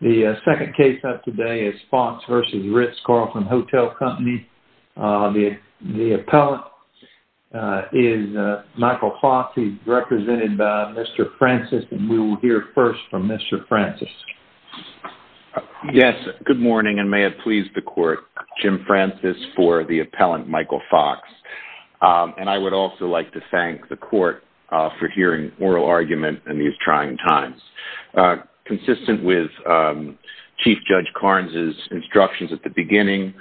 The second case of today is Fox v. Ritz-Carlton Hotel Company. The appellant is Michael Fox. He's represented by Mr. Francis and we will hear first from Mr. Francis. Yes, good morning and may it please the court. Jim Francis for the appellant, Michael Fox. And I would also like to thank the court for hearing oral argument in these trying times. Consistent with Chief Judge Carnes' instructions at the beginning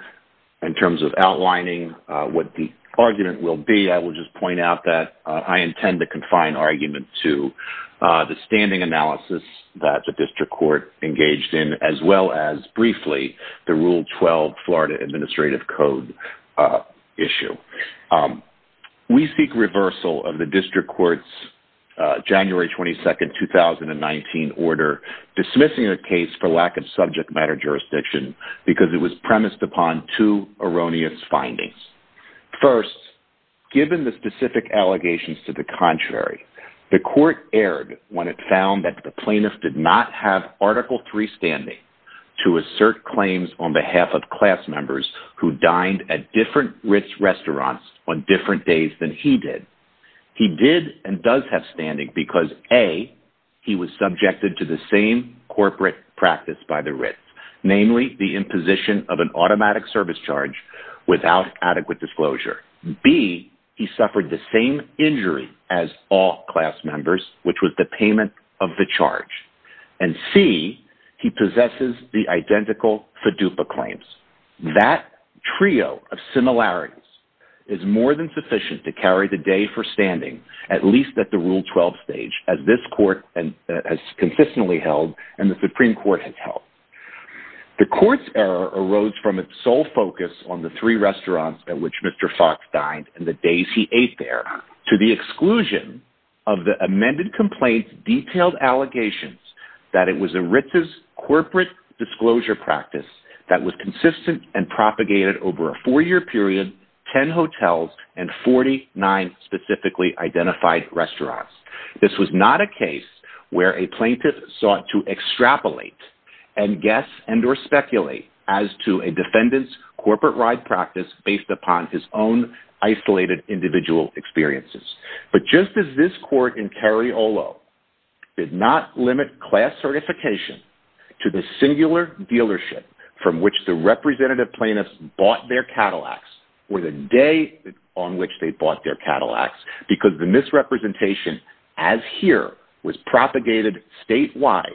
in terms of outlining what the argument will be, I will just point out that I intend to confine argument to the standing analysis that the district court engaged in as well as briefly the Rule 12 Florida Administrative Code issue. We seek reversal of the district court's January 22, 2019 order dismissing the case for lack of subject matter jurisdiction because it was premised upon two erroneous findings. First, given the specific allegations to the contrary, the court erred when it found that the plaintiff did not have Article 3 standing to assert claims on behalf of class members who dined at different Ritz restaurants on different days than he did. He did and does have standing because A, he was subjected to the same corporate practice by the Ritz, namely the imposition of an automatic service charge without adequate disclosure. B, he suffered the same injury as all class members, which was the payment of the charge. And C, he possesses the identical FIDUPA claims. That trio of similarities is more than sufficient to carry the day for standing, at least at the Rule 12 stage, as this court has consistently held and the Supreme Court has held. The court's error arose from its sole focus on the three restaurants at which Mr. Fox dined and the days he ate there, to the exclusion of the amended complaint's disclosure practice that was consistent and propagated over a four-year period, 10 hotels, and 49 specifically identified restaurants. This was not a case where a plaintiff sought to extrapolate and guess and or speculate as to a defendant's corporate ride practice based upon his own isolated individual experiences. But just as this court in Cariolo did not limit class certification to the singular dealership from which the representative plaintiffs bought their Cadillacs or the day on which they bought their Cadillacs, because the misrepresentation, as here, was propagated statewide,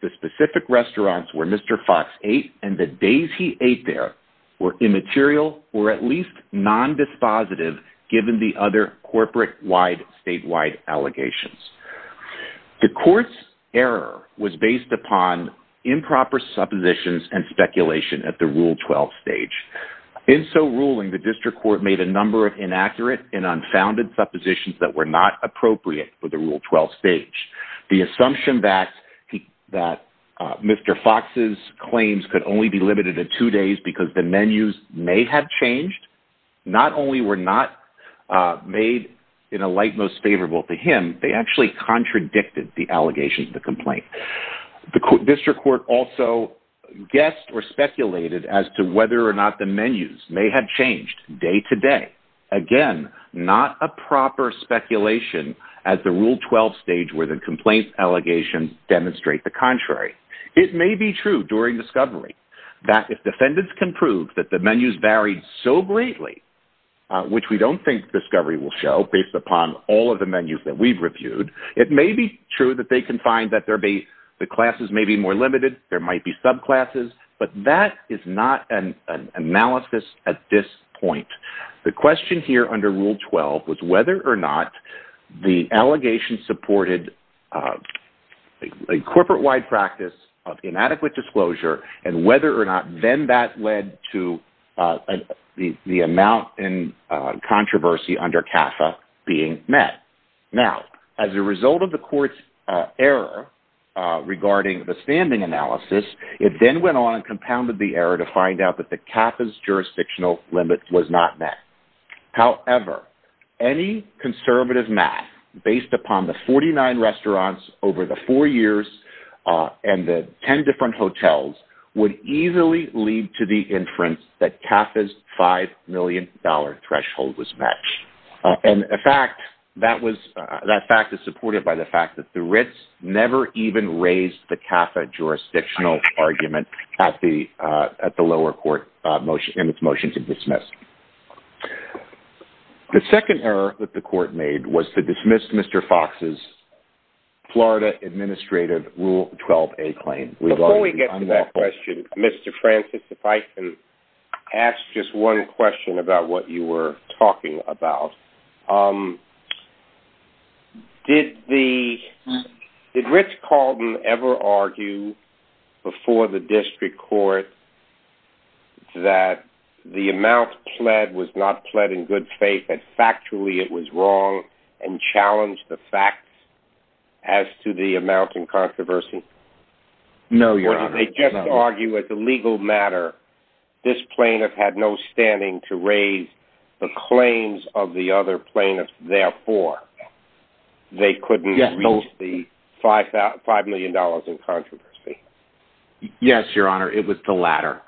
the specific restaurants where Mr. Fox ate and the days he ate there were immaterial or at least non-dispositive, given the other corporate-wide, statewide allegations. The court's error was based upon improper suppositions and speculation at the Rule 12 stage. In so ruling, the district court made a number of inaccurate and unfounded suppositions that were not appropriate for the Rule 12 stage. The assumption that Mr. Fox's claims could only be limited to two days because the menus may have changed not only were not made in a light most favorable to him, they actually contradicted the allegations of the complaint. The district court also guessed or speculated as to whether or not the menus may have changed day to day. Again, not a proper speculation at the Rule 12 stage where the complaint allegations demonstrate the contrary. It may be during discovery that if defendants can prove that the menus varied so greatly, which we don't think discovery will show based upon all of the menus that we've reviewed, it may be true that they can find that the classes may be more limited, there might be subclasses, but that is not an analysis at this point. The question here under Rule 12 was whether or not the allegation supported a corporate-wide practice of inadequate disclosure and whether or not then that led to the amount in controversy under CAFA being met. Now, as a result of the court's error regarding the standing analysis, it then went on and compounded the error to find out that CAFA's jurisdictional limit was not met. However, any conservative math based upon the 49 restaurants over the four years and the 10 different hotels would easily lead to the inference that CAFA's $5 million threshold was matched. And in fact, that fact is supported by the fact that the Ritz never even raised the CAFA jurisdictional argument at the lower court in its motion to dismiss. The second error that the court made was to dismiss Mr. Fox's Florida Administrative Rule 12a claim. Before we get to that question, Mr. Francis, if I can ask just one question about what you were talking about. Did Ritz-Carlton ever argue before the district court that the amount pled was not pled in good faith and factually it was wrong and challenged the facts as to the amount in controversy? No, Your Honor. Or did they just argue as a legal matter, this plaintiff had no standing to raise the claims of the other plaintiffs, therefore, they couldn't reach the $5 million in controversy? Yes, Your Honor. It was the latter.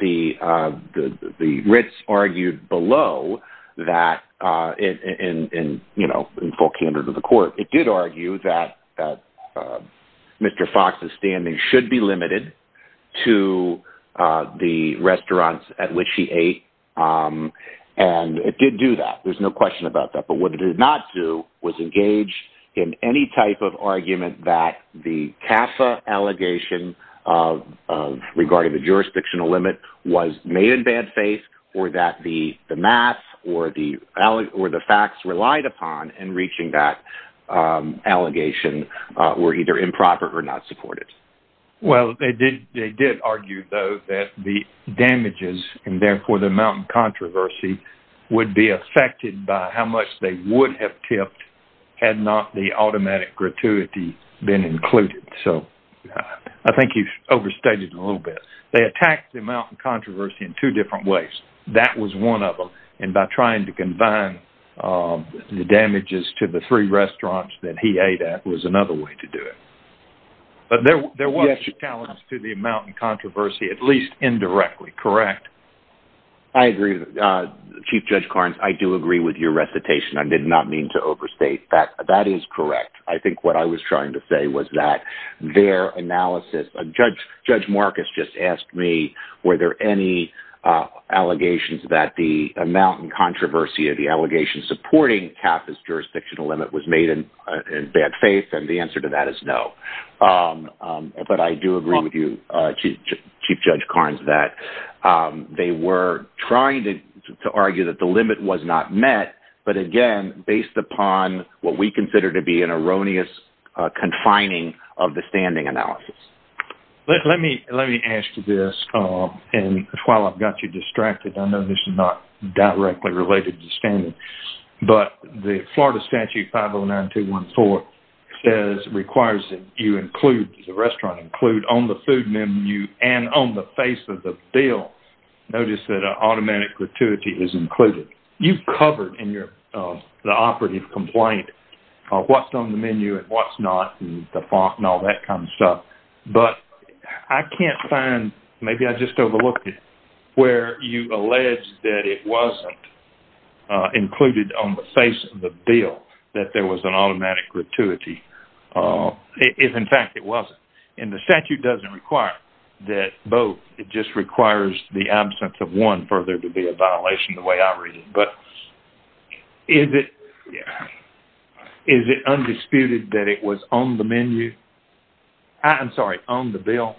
The Ritz argued below that in full candor to the court, it did argue that Mr. Fox's standing should be limited to the restaurants at which he ate. And it did do that. There's no question about that. But what it did not do was engage in any type of argument that the CAFA allegation regarding the jurisdictional limit was made in bad faith, or that the math or the facts relied upon in reaching that allegation were either improper or not supported. Well, they did argue, though, that the damages and therefore the amount in controversy would be affected by how much they would have tipped had not the automatic gratuity been included. So I think you've overstated a little bit. They attacked the amount in controversy in different ways. That was one of them. And by trying to combine the damages to the three restaurants that he ate at was another way to do it. But there was a challenge to the amount in controversy, at least indirectly, correct? I agree. Chief Judge Carnes, I do agree with your recitation. I did not mean to overstate that. That is correct. I think what I was trying to say was that their analysis of Judge Marcus just asked me, were there any allegations that the amount in controversy of the allegation supporting CAFA's jurisdictional limit was made in bad faith? And the answer to that is no. But I do agree with you, Chief Judge Carnes, that they were trying to argue that the limit was not met. But again, based upon what we consider to be an erroneous confining of the standing analysis. Let me ask you this. And while I've got you distracted, I know this is not directly related to standing. But the Florida Statute 509214 requires that you include, does the restaurant include, on the food menu and on the face of the bill, notice that automatic gratuity is included. You've covered in the operative complaint what's on the menu and what's not and the font and all that kind of stuff. But I can't find, maybe I just overlooked it, where you allege that it wasn't included on the face of the bill that there was an automatic gratuity. If in fact it wasn't. And the statute doesn't require that both. It just requires the absence of one further to be a violation the way I read it. But is it? Yeah. Is it undisputed that it was on the menu? I'm sorry, on the bill?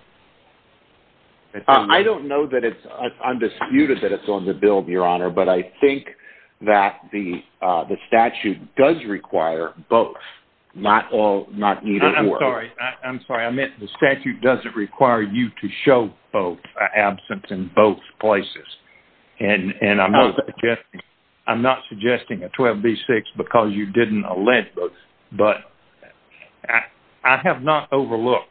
I don't know that it's undisputed that it's on the bill, Your Honor. But I think that the statute does require both. Not all, not neither. I'm sorry. I meant the statute doesn't require you to show both, absence in both places. And I'm not suggesting a 12B6 because you didn't allege both. But I have not overlooked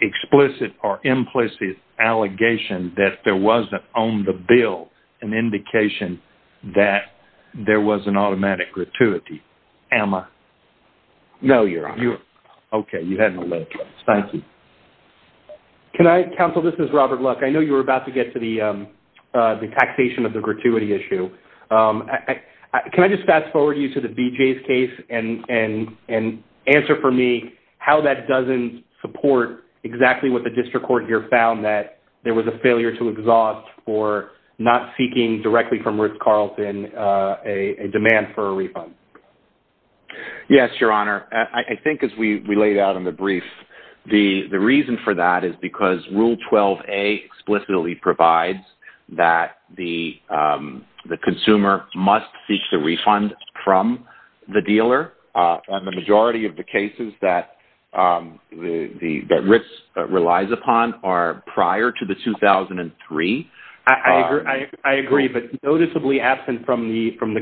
explicit or implicit allegation that there wasn't on the bill an indication that there was an automatic gratuity. Am I? No, Your Honor. Okay. You can. Counsel, this is Robert Luck. I know you were about to get to the taxation of the gratuity issue. Can I just fast forward you to the BJ's case and answer for me how that doesn't support exactly what the district court here found that there was a failure to exhaust for not seeking directly from Ruth Carlson a demand for a refund? Yes, Your Honor. I think as we laid out in the brief, the reason for that is because Rule 12A explicitly provides that the consumer must seek the refund from the dealer. And the majority of the cases that RITS relies upon are prior to the 2003. I agree. But noticeably absent from the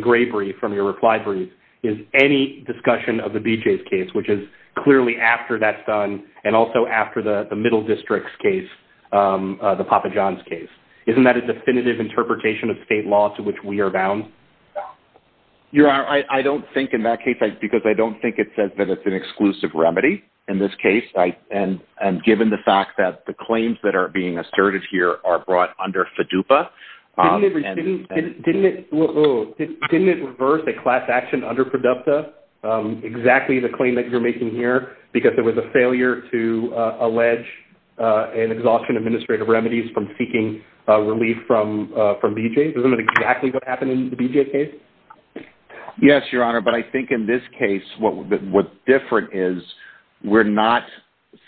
reply brief is any discussion of the BJ's case, which is clearly after that's done and also after the middle district's case, the Papa John's case. Isn't that a definitive interpretation of state law to which we are bound? Your Honor, I don't think in that case, because I don't think it says that it's an exclusive remedy in this case. And given the fact that the claims that are being asserted here are brought under FDUPA. Didn't it reverse a class action under Producta, exactly the claim that you're making here, because there was a failure to allege an exhaustion of administrative remedies from seeking relief from BJ's? Isn't it exactly what happened in the BJ's case? Yes, Your Honor. But I think in this case, what's different is we're not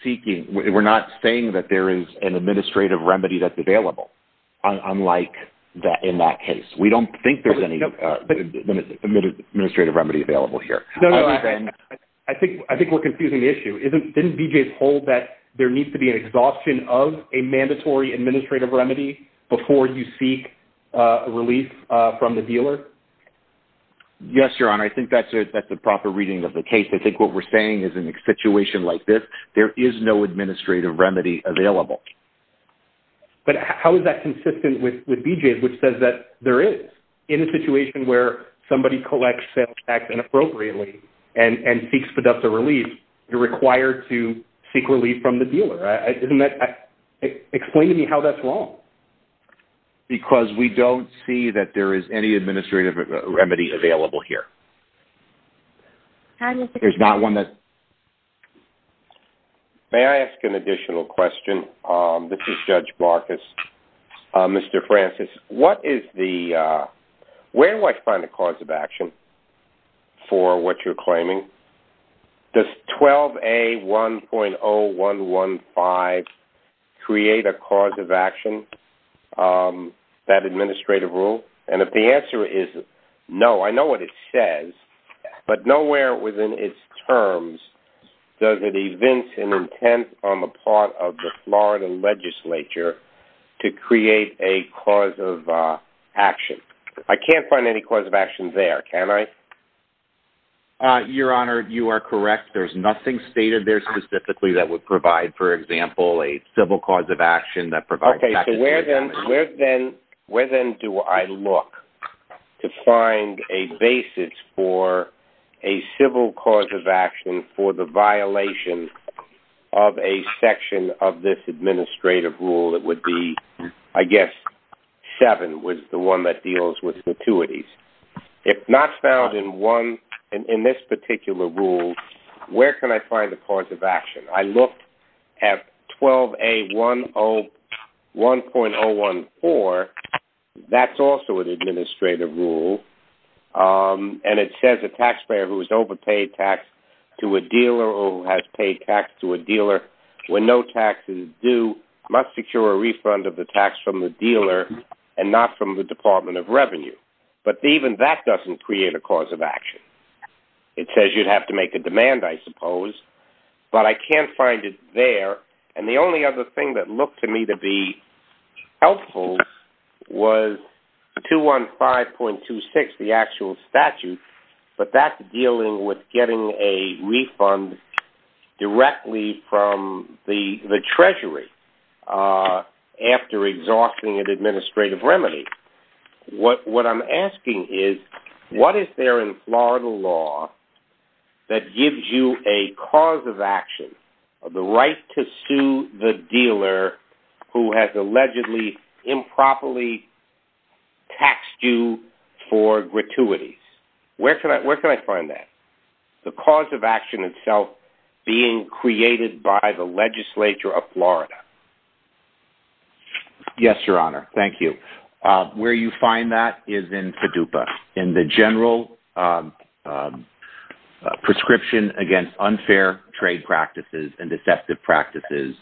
seeking, we're not saying that there is an administrative remedy that's available. Unlike that in that case, we don't think there's any administrative remedy available here. I think we're confusing the issue. Didn't BJ's hold that there needs to be an exhaustion of a mandatory administrative remedy before you seek a relief from the dealer? Yes, Your Honor. I think that's a proper reading of the case. I think what we're saying is an situation like this, there is no administrative remedy available. But how is that consistent with BJ's, which says that there is? In a situation where somebody collects sales tax inappropriately and seeks Producta relief, you're required to seek relief from the dealer. Explain to me how that's wrong. Because we don't see that there is any administrative remedy. May I ask an additional question? This is Judge Marcus. Mr. Francis, what is the, where do I find a cause of action for what you're claiming? Does 12A1.0115 create a cause of action, that administrative rule? And if the answer is no, I know what it says, but nowhere within its terms does it evince an intent on the part of the Florida legislature to create a cause of action. I can't find any cause of action there, can I? Your Honor, you are correct. There's nothing stated there specifically that would provide, for example, a civil cause of action that provides... Okay, so where then do I look to find a basis for a civil cause of action for the violation of a section of this administrative rule that would be, I guess, seven was the one that deals with gratuities. If not found in one, in this particular rule, where can I find the cause of action? It says you'd have to make a demand, I suppose, but I can't find it there. And the only one, 5.26, the actual statute, but that's dealing with getting a refund directly from the treasury after exhausting an administrative remedy. What I'm asking is, what is there in Florida law that gives you a cause of action, the right to sue the dealer who has allegedly improperly taxed you for gratuities? Where can I find that? The cause of action itself being created by the legislature of Florida. Yes, Your Honor. Thank you. Where you find that is in FDUPA. In the general prescription against unfair trade practices and deceptive practices,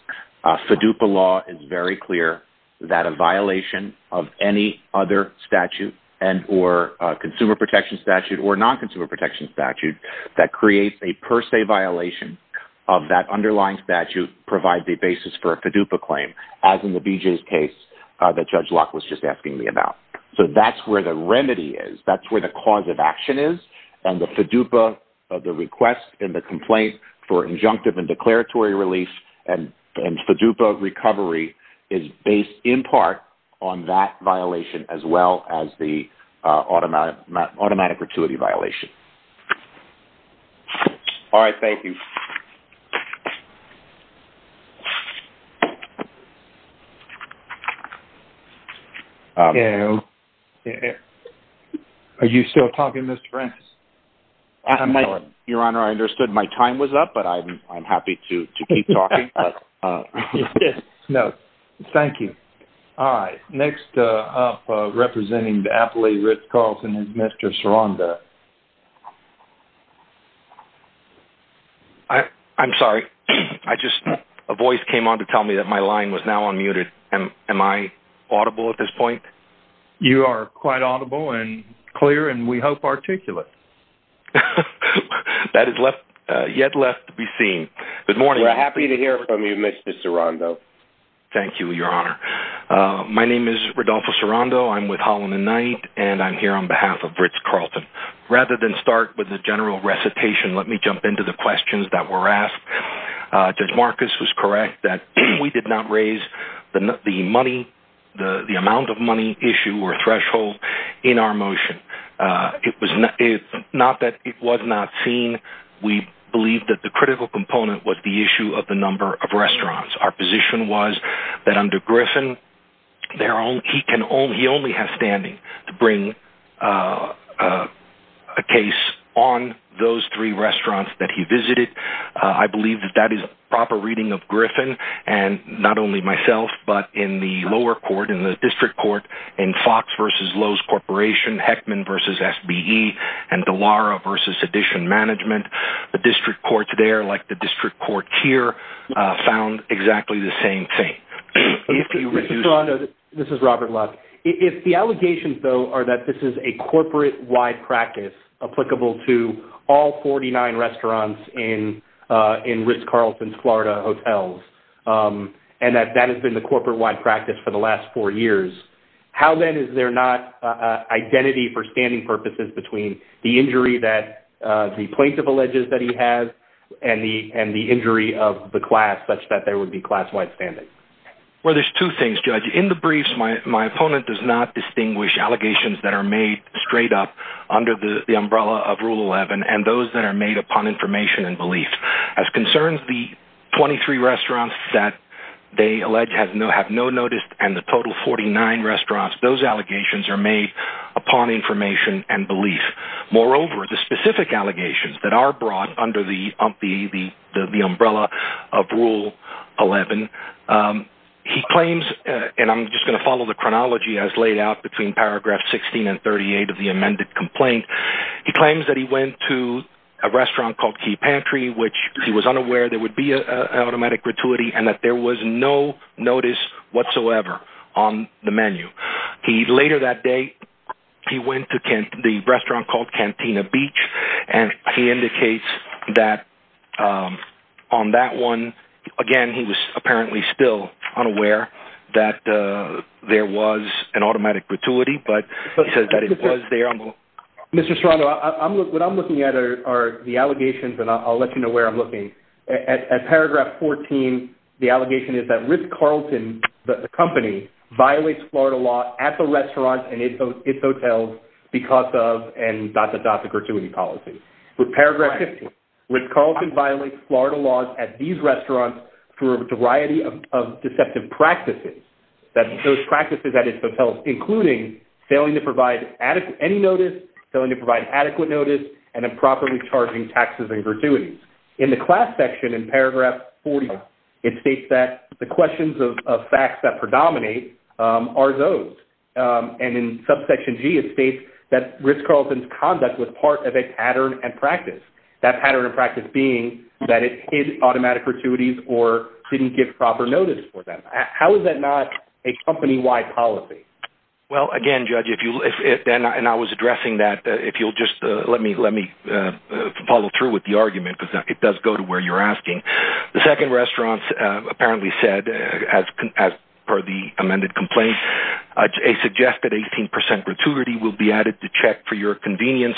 FDUPA law is very clear that a violation of any other statute and or consumer protection statute or non-consumer protection statute that creates a per se violation of that underlying statute provides a basis for a FDUPA claim, as in the BJ's case that Judge Locke was just asking me about. That's where the remedy is. That's where the cause of action is. And the FDUPA, the request and the complaint for injunctive and declaratory release and FDUPA recovery is based in part on that violation as well as the automatic gratuity violation. All right. Thank you. Okay. Are you still talking, Mr. Francis? Your Honor, I understood my time was up, but I'm happy to keep talking. No, thank you. All right. Next up, I just, a voice came on to tell me that my line was now unmuted. Am I audible at this point? You are quite audible and clear, and we hope articulate. That is yet left to be seen. Good morning. We're happy to hear from you, Mr. Sirondo. Thank you, Your Honor. My name is Rodolfo Sirondo. I'm with Holland and Knight, and I'm here on behalf of Ritz-Carlton. Rather than start with the general recitation, let me jump into the questions that were asked. Judge Marcus was correct that we did not raise the money, the amount of money issue or threshold in our motion. It was not that it was not seen. We believe that the critical component was the issue of the number of restaurants. Our position was that under Griffin, he only has standing to bring a case on those three restaurants that he visited. I believe that that is a proper reading of Griffin, and not only myself, but in the lower court, in the district court, in Fox v. Lowe's Corporation, Heckman v. SBE, and Dallara v. Sedition Management. The district courts there, like the district court here, found exactly the same thing. Mr. Sirondo, this is Robert Luck. If the allegations, though, are that this is a corporate-wide practice applicable to all 49 restaurants in Ritz-Carlton's Florida hotels, and that that has been the corporate-wide practice for the last four years, how then is there not identity for standing purposes between the injury that the plaintiff alleges that he has and the injury of the class, such that there would be class-wide standing? Well, there's two things, Judge. In the briefs, my opponent does not distinguish allegations that are made straight up under the umbrella of Rule 11 and those that are made upon information and belief. As concerns the 23 restaurants that they allege have no notice and the total 49 restaurants, those allegations are made upon information and belief. Moreover, the specific allegations that are brought under the umbrella of Rule 11, he claims, and I'm just going to follow the chronology as laid out between paragraph 16 and 38 of the amended complaint, he claims that he went to a restaurant called Key Pantry, which he was unaware there would be an automatic gratuity and that there was no notice whatsoever on the menu. He later that day, he went to the restaurant called Cantina Beach, and he indicates that on that one, again, he was apparently still unaware that there was an automatic gratuity, but he says that it was there. Mr. Serrano, what I'm looking at are the At paragraph 14, the allegation is that Ritz-Carlton, the company, violates Florida law at the restaurant and its hotels because of and dot, dot, dot, the gratuity policy. With paragraph 15, Ritz-Carlton violates Florida laws at these restaurants through a variety of deceptive practices, those practices at its hotels, including failing to provide any notice, failing to provide adequate notice, and improperly charging taxes and gratuities. In the class section, in paragraph 40, it states that the questions of facts that predominate are those. In subsection G, it states that Ritz-Carlton's conduct was part of a pattern and practice, that pattern and practice being that it hid automatic gratuities or didn't give proper notice for them. How is that not a company-wide policy? Well, again, Judge, and I was addressing that, if you'll just let me follow through with the argument because it does go to where you're asking. The second restaurant apparently said, per the amended complaint, a suggested 18% gratuity will be added to check for your convenience.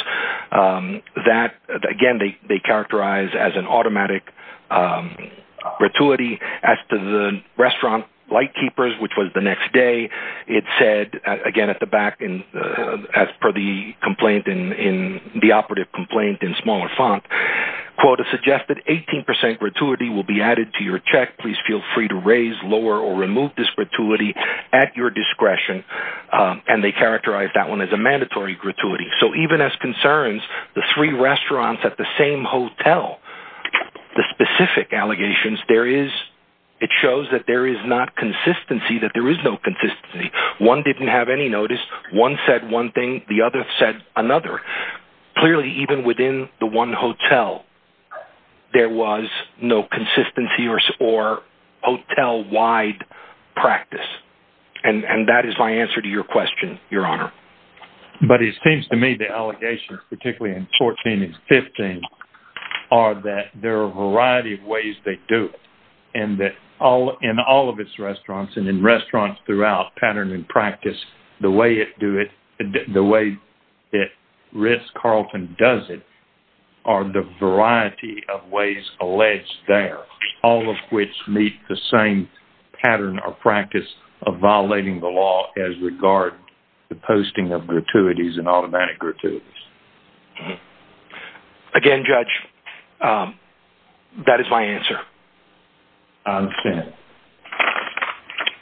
That, again, they characterize as an automatic gratuity. As to the restaurant light keepers, which was the next day, it said, again, at the back, as per the operative complaint in smaller font, quote, a suggested 18% gratuity will be added to your check. Please feel free to raise, lower, or remove this gratuity at your discretion. And they characterize that one as a mandatory gratuity. So even as concerns, the three restaurants at the same hotel, the specific allegations, it shows that there is not consistency, that there is no consistency. One didn't have any notice. One said one thing. The other said another. Clearly, even within the one hotel, there was no consistency or hotel-wide practice. And that is my answer to your question, Your Honor. But it seems to me the allegations, particularly in 14 and 15, are that there are a variety of ways they do it. And that in all of its restaurants, and in restaurants throughout pattern and practice, the way that Ritz-Carlton does it are the variety of ways alleged there, all of which meet the same pattern or practice of violating the law as regard to posting of gratuities and automatic gratuities. Mm-hmm. Again, Judge, that is my answer. I understand.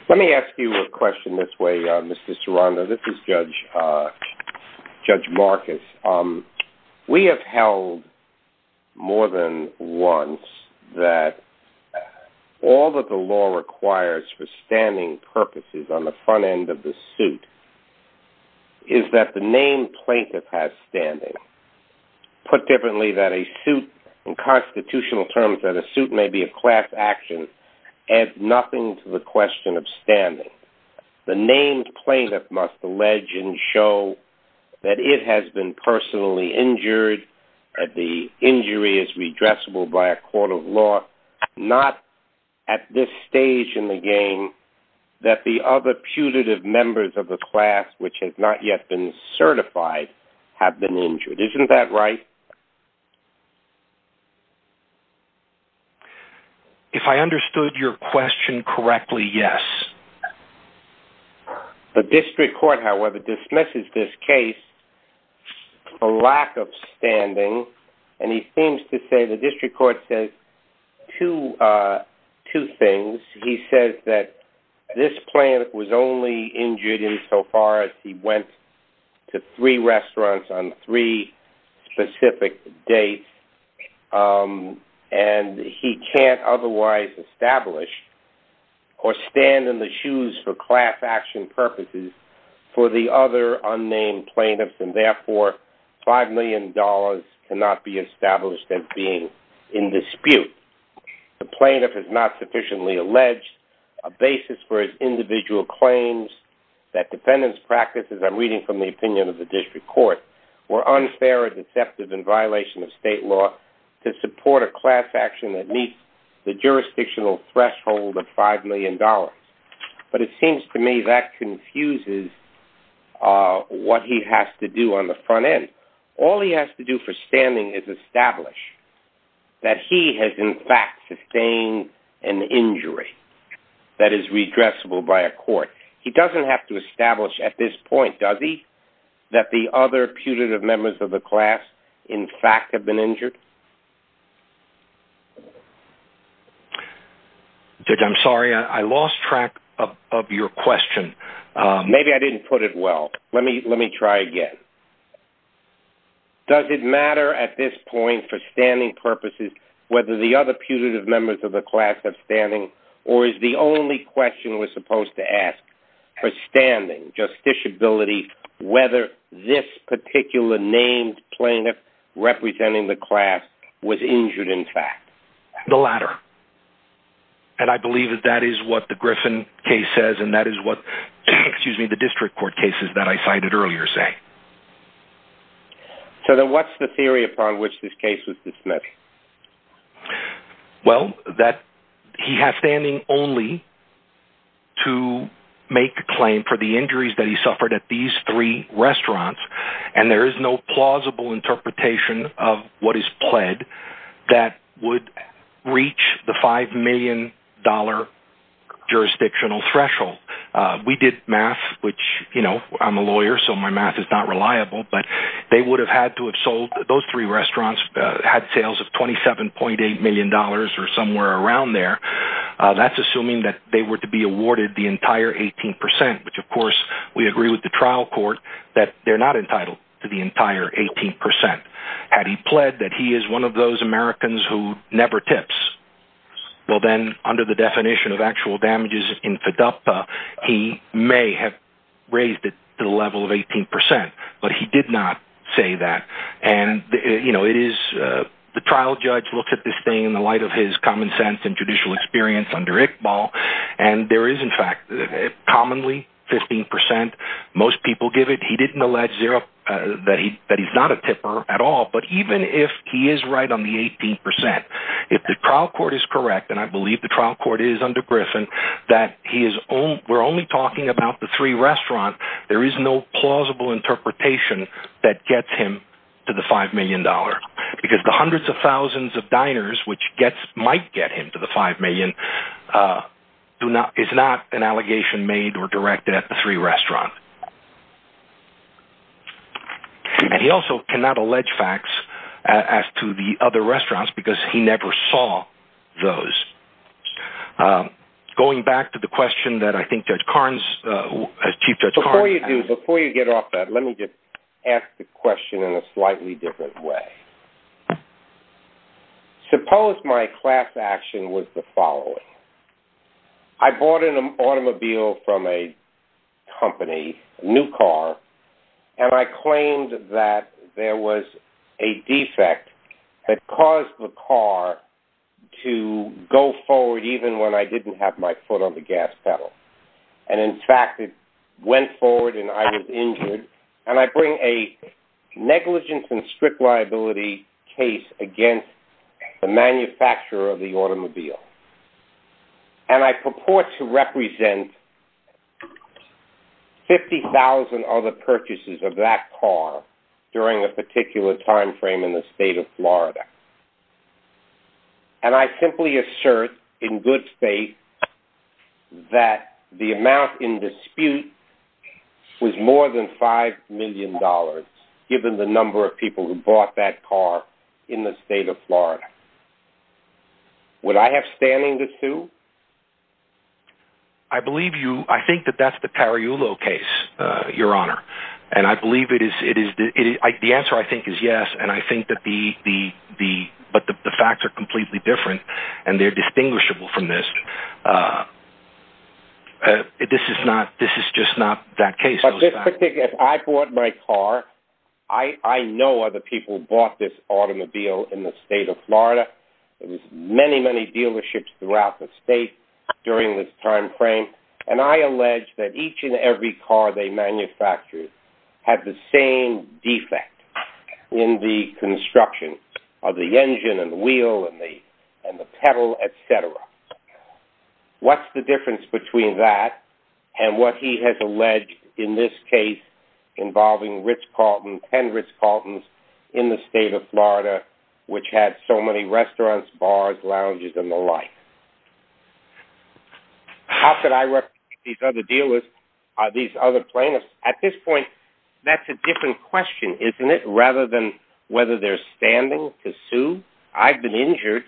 Let me ask you a question this way, Mr. Serrano. This is Judge Marcus. We have held more than once that all that the law requires for standing purposes on the front has standing. Put differently, that a suit, in constitutional terms, that a suit may be a class action, adds nothing to the question of standing. The named plaintiff must allege and show that it has been personally injured, that the injury is redressable by a court of law, not at this stage in the game, that the other putative members of the class, which has not yet been certified, have been injured. Isn't that right? If I understood your question correctly, yes. The district court, however, dismisses this case for lack of standing, and he seems to say the he went to three restaurants on three specific dates, and he can't otherwise establish or stand in the shoes for class action purposes for the other unnamed plaintiffs, and therefore, $5 million cannot be established as being in dispute. The plaintiff has not sufficiently alleged a basis for his individual claims that defendants' practices, I'm reading from the opinion of the district court, were unfair or deceptive in violation of state law to support a class action that meets the jurisdictional threshold of $5 million. But it seems to me that confuses what he has to do on the front end. All he has to do for standing is establish that he has, in fact, sustained an injury that is redressable by a court. He doesn't have to establish at this point, does he, that the other putative members of the class, in fact, have been injured? Judge, I'm sorry, I lost track of your question. Maybe I didn't put it well. Let me try again. Does it matter at this point, for standing purposes, whether the other putative members of the class have standing, or is the only question we're supposed to ask for standing, justiciability, whether this particular named plaintiff representing the class was injured, in fact? The latter. And I believe that that is what the Griffin case says, and that is what, excuse me, the district court cases that I cited earlier say. So then what's the theory upon which this case was dismissed? Well, that he has standing only to make a claim for the injuries that he suffered at these three restaurants, and there is no plausible interpretation of what is pled that would reach the $5 million jurisdictional threshold. We did math, which, you know, I'm a lawyer, so my math is not reliable, but they would have had to have sold, those three restaurants had sales of $27.8 million or somewhere around there. That's assuming that they were to be awarded the entire 18%, which, of course, we agree with the trial court that they're not entitled to the entire 18%. Had he pled that he is one of those Americans who never tips, well then, under the definition of actual damages in FIDAPA, he may have raised it to the level of 18%, but he did not say that. And, you know, it is, the trial judge looked at this thing in the light of his common sense and judicial experience under Iqbal, and there is, in fact, commonly 15%, most people give it. He didn't allege that he's not a tipper at all, but even if he is right on the 18%, if the trial court is correct, and I believe the trial court is under Griffin, that we're only talking about the three restaurants, there is no plausible interpretation that gets him to the $5 million. Because the hundreds of thousands of diners, which might get him to the $5 million, is not an allegation made or directed at the three restaurants. And he also cannot allege facts as to the other restaurants because he never saw those. Going back to the question that I think Judge Karnes, Chief Judge Karnes... Before you do, before you get off that, let me just ask the question in a slightly different way. Suppose my class action was the following. I bought an automobile from a company, new car, and I claimed that there was a defect that caused the car to go forward even when I didn't have my foot on the gas pedal. And in fact, it went forward and I was injured, and I bring a negligence and strict liability case against the manufacturer of the automobile. And I purport to represent 50,000 other purchases of that car during a particular time frame in the state of Florida. And I simply assert in good faith that the amount in dispute was more than $5 million, given the number of people who bought that car in the state of Florida. Would I have standing to sue? I believe you. I think that that's the Cariulo case, Your Honor. And I believe it is. The answer I think is yes. And I think that the facts are completely different and they're distinguishable from this. This is just not that case. But this particular... If I bought my car, I know other people bought this automobile in the state of Florida. There was many, many dealerships throughout the state during this time frame. And I allege that each and every car they manufactured had the same defect in the construction of the engine and the wheel and the pedal, et cetera. What's the difference between that and what he has alleged in this case involving 10 Ritz-Carlton's in the state of Florida, which had so many restaurants, bars, lounges, and the like? How could I represent these other dealers, these other plaintiffs? At this point, that's a different question, isn't it? Rather than whether they're standing to sue. I've been injured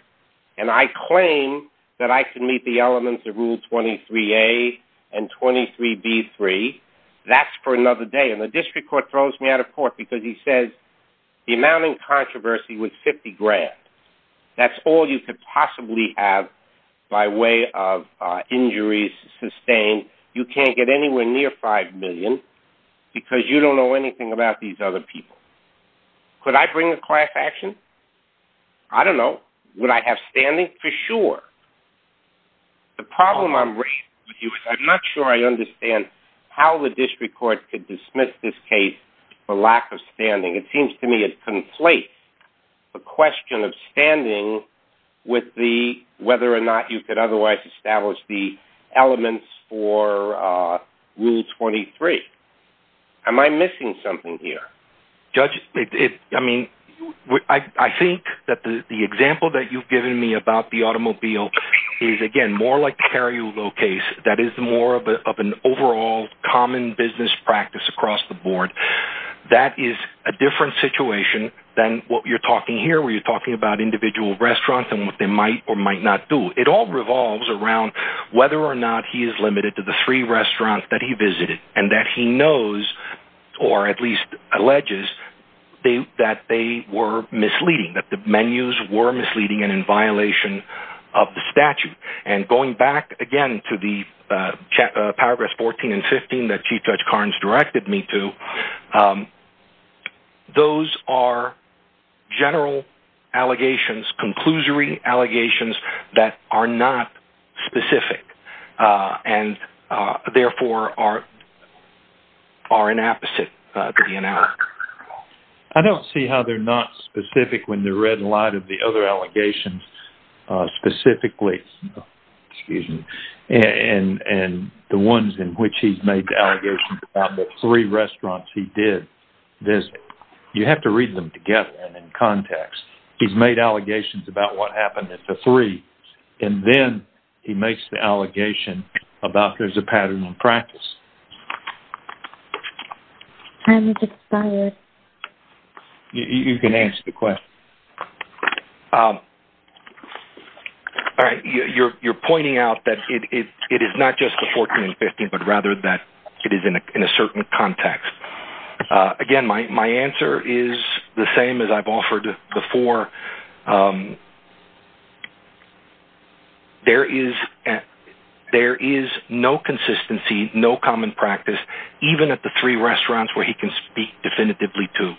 and I claim that I can meet the elements of Rule 23A and 23B3. That's for another day. The district court throws me out of court because he says the amount in controversy was 50 grand. That's all you could possibly have by way of injuries sustained. You can't get anywhere near 5 million because you don't know anything about these other people. Could I bring a class action? I don't know. Would I have standing? For sure. The problem I'm raised with you is I'm not sure I understand how the district court could dismiss this case for lack of standing. It seems to me it conflates the question of standing with whether or not you could otherwise establish the elements for Rule 23. Am I missing something here? Judge, I think that the example that you've given me about the automobile is, again, more like the Carrillo case. That is more of an overall common business practice across the board. That is a different situation than what you're talking here, where you're talking about individual restaurants and what they might or might not do. It all revolves around whether or not he is limited to the three restaurants that he visited and that he knows, or at least alleges, that they were misleading, that the menus were misleading and in violation of the statute. Going back, again, to the paragraphs 14 and 15 that Chief Judge Carnes directed me to, those are general allegations, conclusory allegations that are not specific and, therefore, are inapposite to the analog. I don't see how they're not specific when they're read in light of the other allegations specifically, excuse me, and the ones in which he's made the allegations about the three restaurants he did visit. You have to read them together and in context. He's made allegations about what happened at the three, and then he makes the allegation about there's a pattern in practice. Time has expired. You can answer the question. All right. You're pointing out that it is not just the 14 and 15, but rather that it is in a certain context. Again, my answer is the same as I've offered before. There is no consistency, no common practice, even at the three restaurants where he can speak definitively to.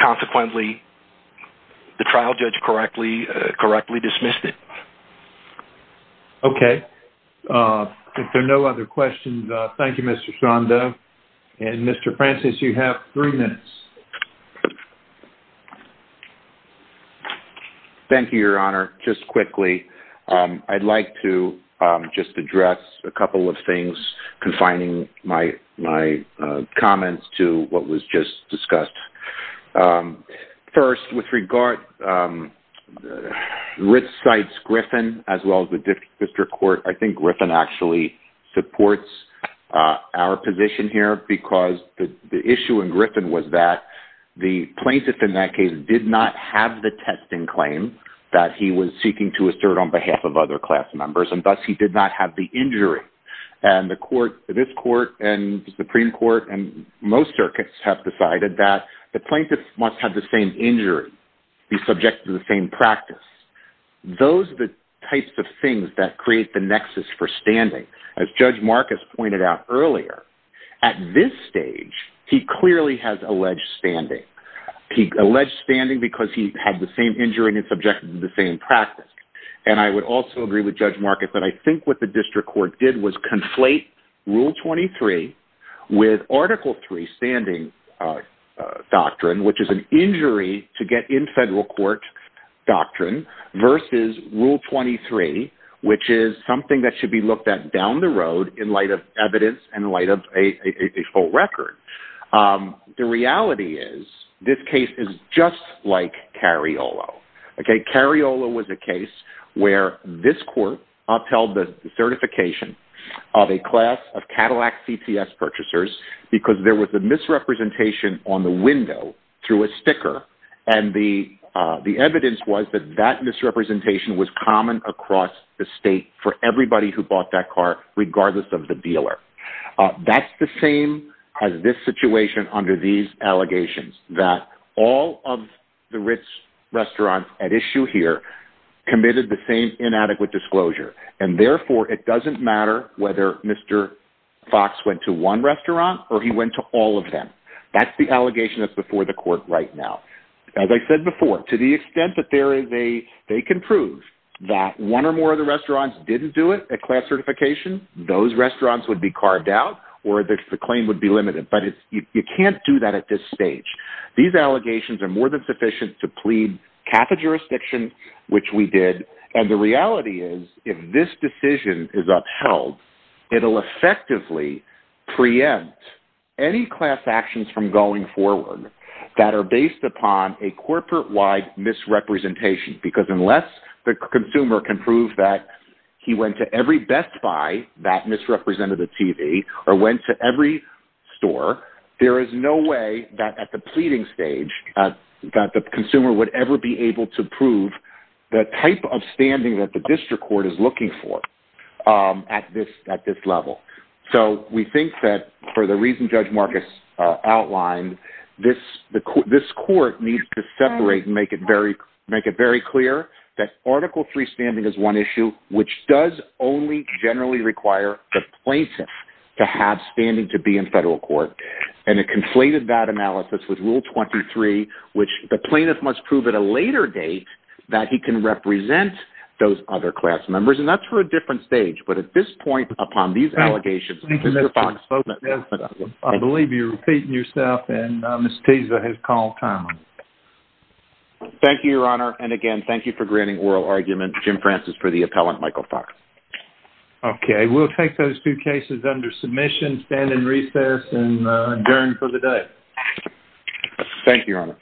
Consequently, the trial judge correctly dismissed it. Okay. If there are no other questions, thank you, Mr. Sando. Mr. Francis, you have three minutes. Thank you, Your Honor. Just quickly, I'd like to just address a couple of things, confining my comments to what was just discussed. First, with regard, Ritz cites Griffin as well as the district court. I think Griffin actually supports our position here because the issue in Griffin was that the plaintiff in that case did not have the testing claim that he was seeking to assert on behalf of other class members, and thus he did not have the injury. This court and the Supreme Court and most circuits have decided that the plaintiff must have the same injury, be subjected to the same practice. Those are the things that create the nexus for standing. As Judge Marcus pointed out earlier, at this stage, he clearly has alleged standing. He alleged standing because he had the same injury and is subjected to the same practice. I would also agree with Judge Marcus that I think what the district court did was conflate Rule 23 with Article 3 standing doctrine, which is an injury to get in federal court doctrine, versus Rule 23, which is something that should be looked at down the road in light of evidence and in light of a full record. The reality is, this case is just like Cariolo. Cariolo was a case where this court upheld the certification of a class of Cadillac CTS purchasers because there was a misrepresentation on the window through a sticker. The evidence was that that misrepresentation was common across the state for everybody who bought that car, regardless of the dealer. That's the same as this situation under these allegations, that all of the rich restaurants at issue here committed the same inadequate disclosure. Therefore, it doesn't matter whether Mr. Fox went to one restaurant or he went to all of them. That's the allegation that's before the court right now. As I said before, to the extent that they can prove that one or more of the restaurants didn't do it at class certification, those restaurants would be carved out or the claim would be limited. But you can't do that at this stage. These allegations are more than sufficient to plead Catholic jurisdiction, which we did. The reality is, if this decision is upheld, it'll effectively preempt any class actions from going forward that are based upon a corporate-wide misrepresentation. Because unless the consumer can prove that he went to every Best Buy that misrepresented the TV or went to every store, there is no way that at the pleading stage, that the consumer would ever be able to prove the type of standing that the district court is at this level. So we think that for the reason Judge Marcus outlined, this court needs to separate and make it very clear that Article III standing is one issue which does only generally require the plaintiff to have standing to be in federal court. And it conflated that analysis with Rule 23, which the plaintiff must prove at a later date that he can represent those other members. And that's for a different stage. But at this point, upon these allegations, I believe you're repeating yourself and Ms. Teza has called time. Thank you, Your Honor. And again, thank you for granting oral argument, Jim Francis, for the appellant, Michael Fox. Okay, we'll take those two cases under submission, stand in recess, and adjourn for the day. Thank you, Your Honor.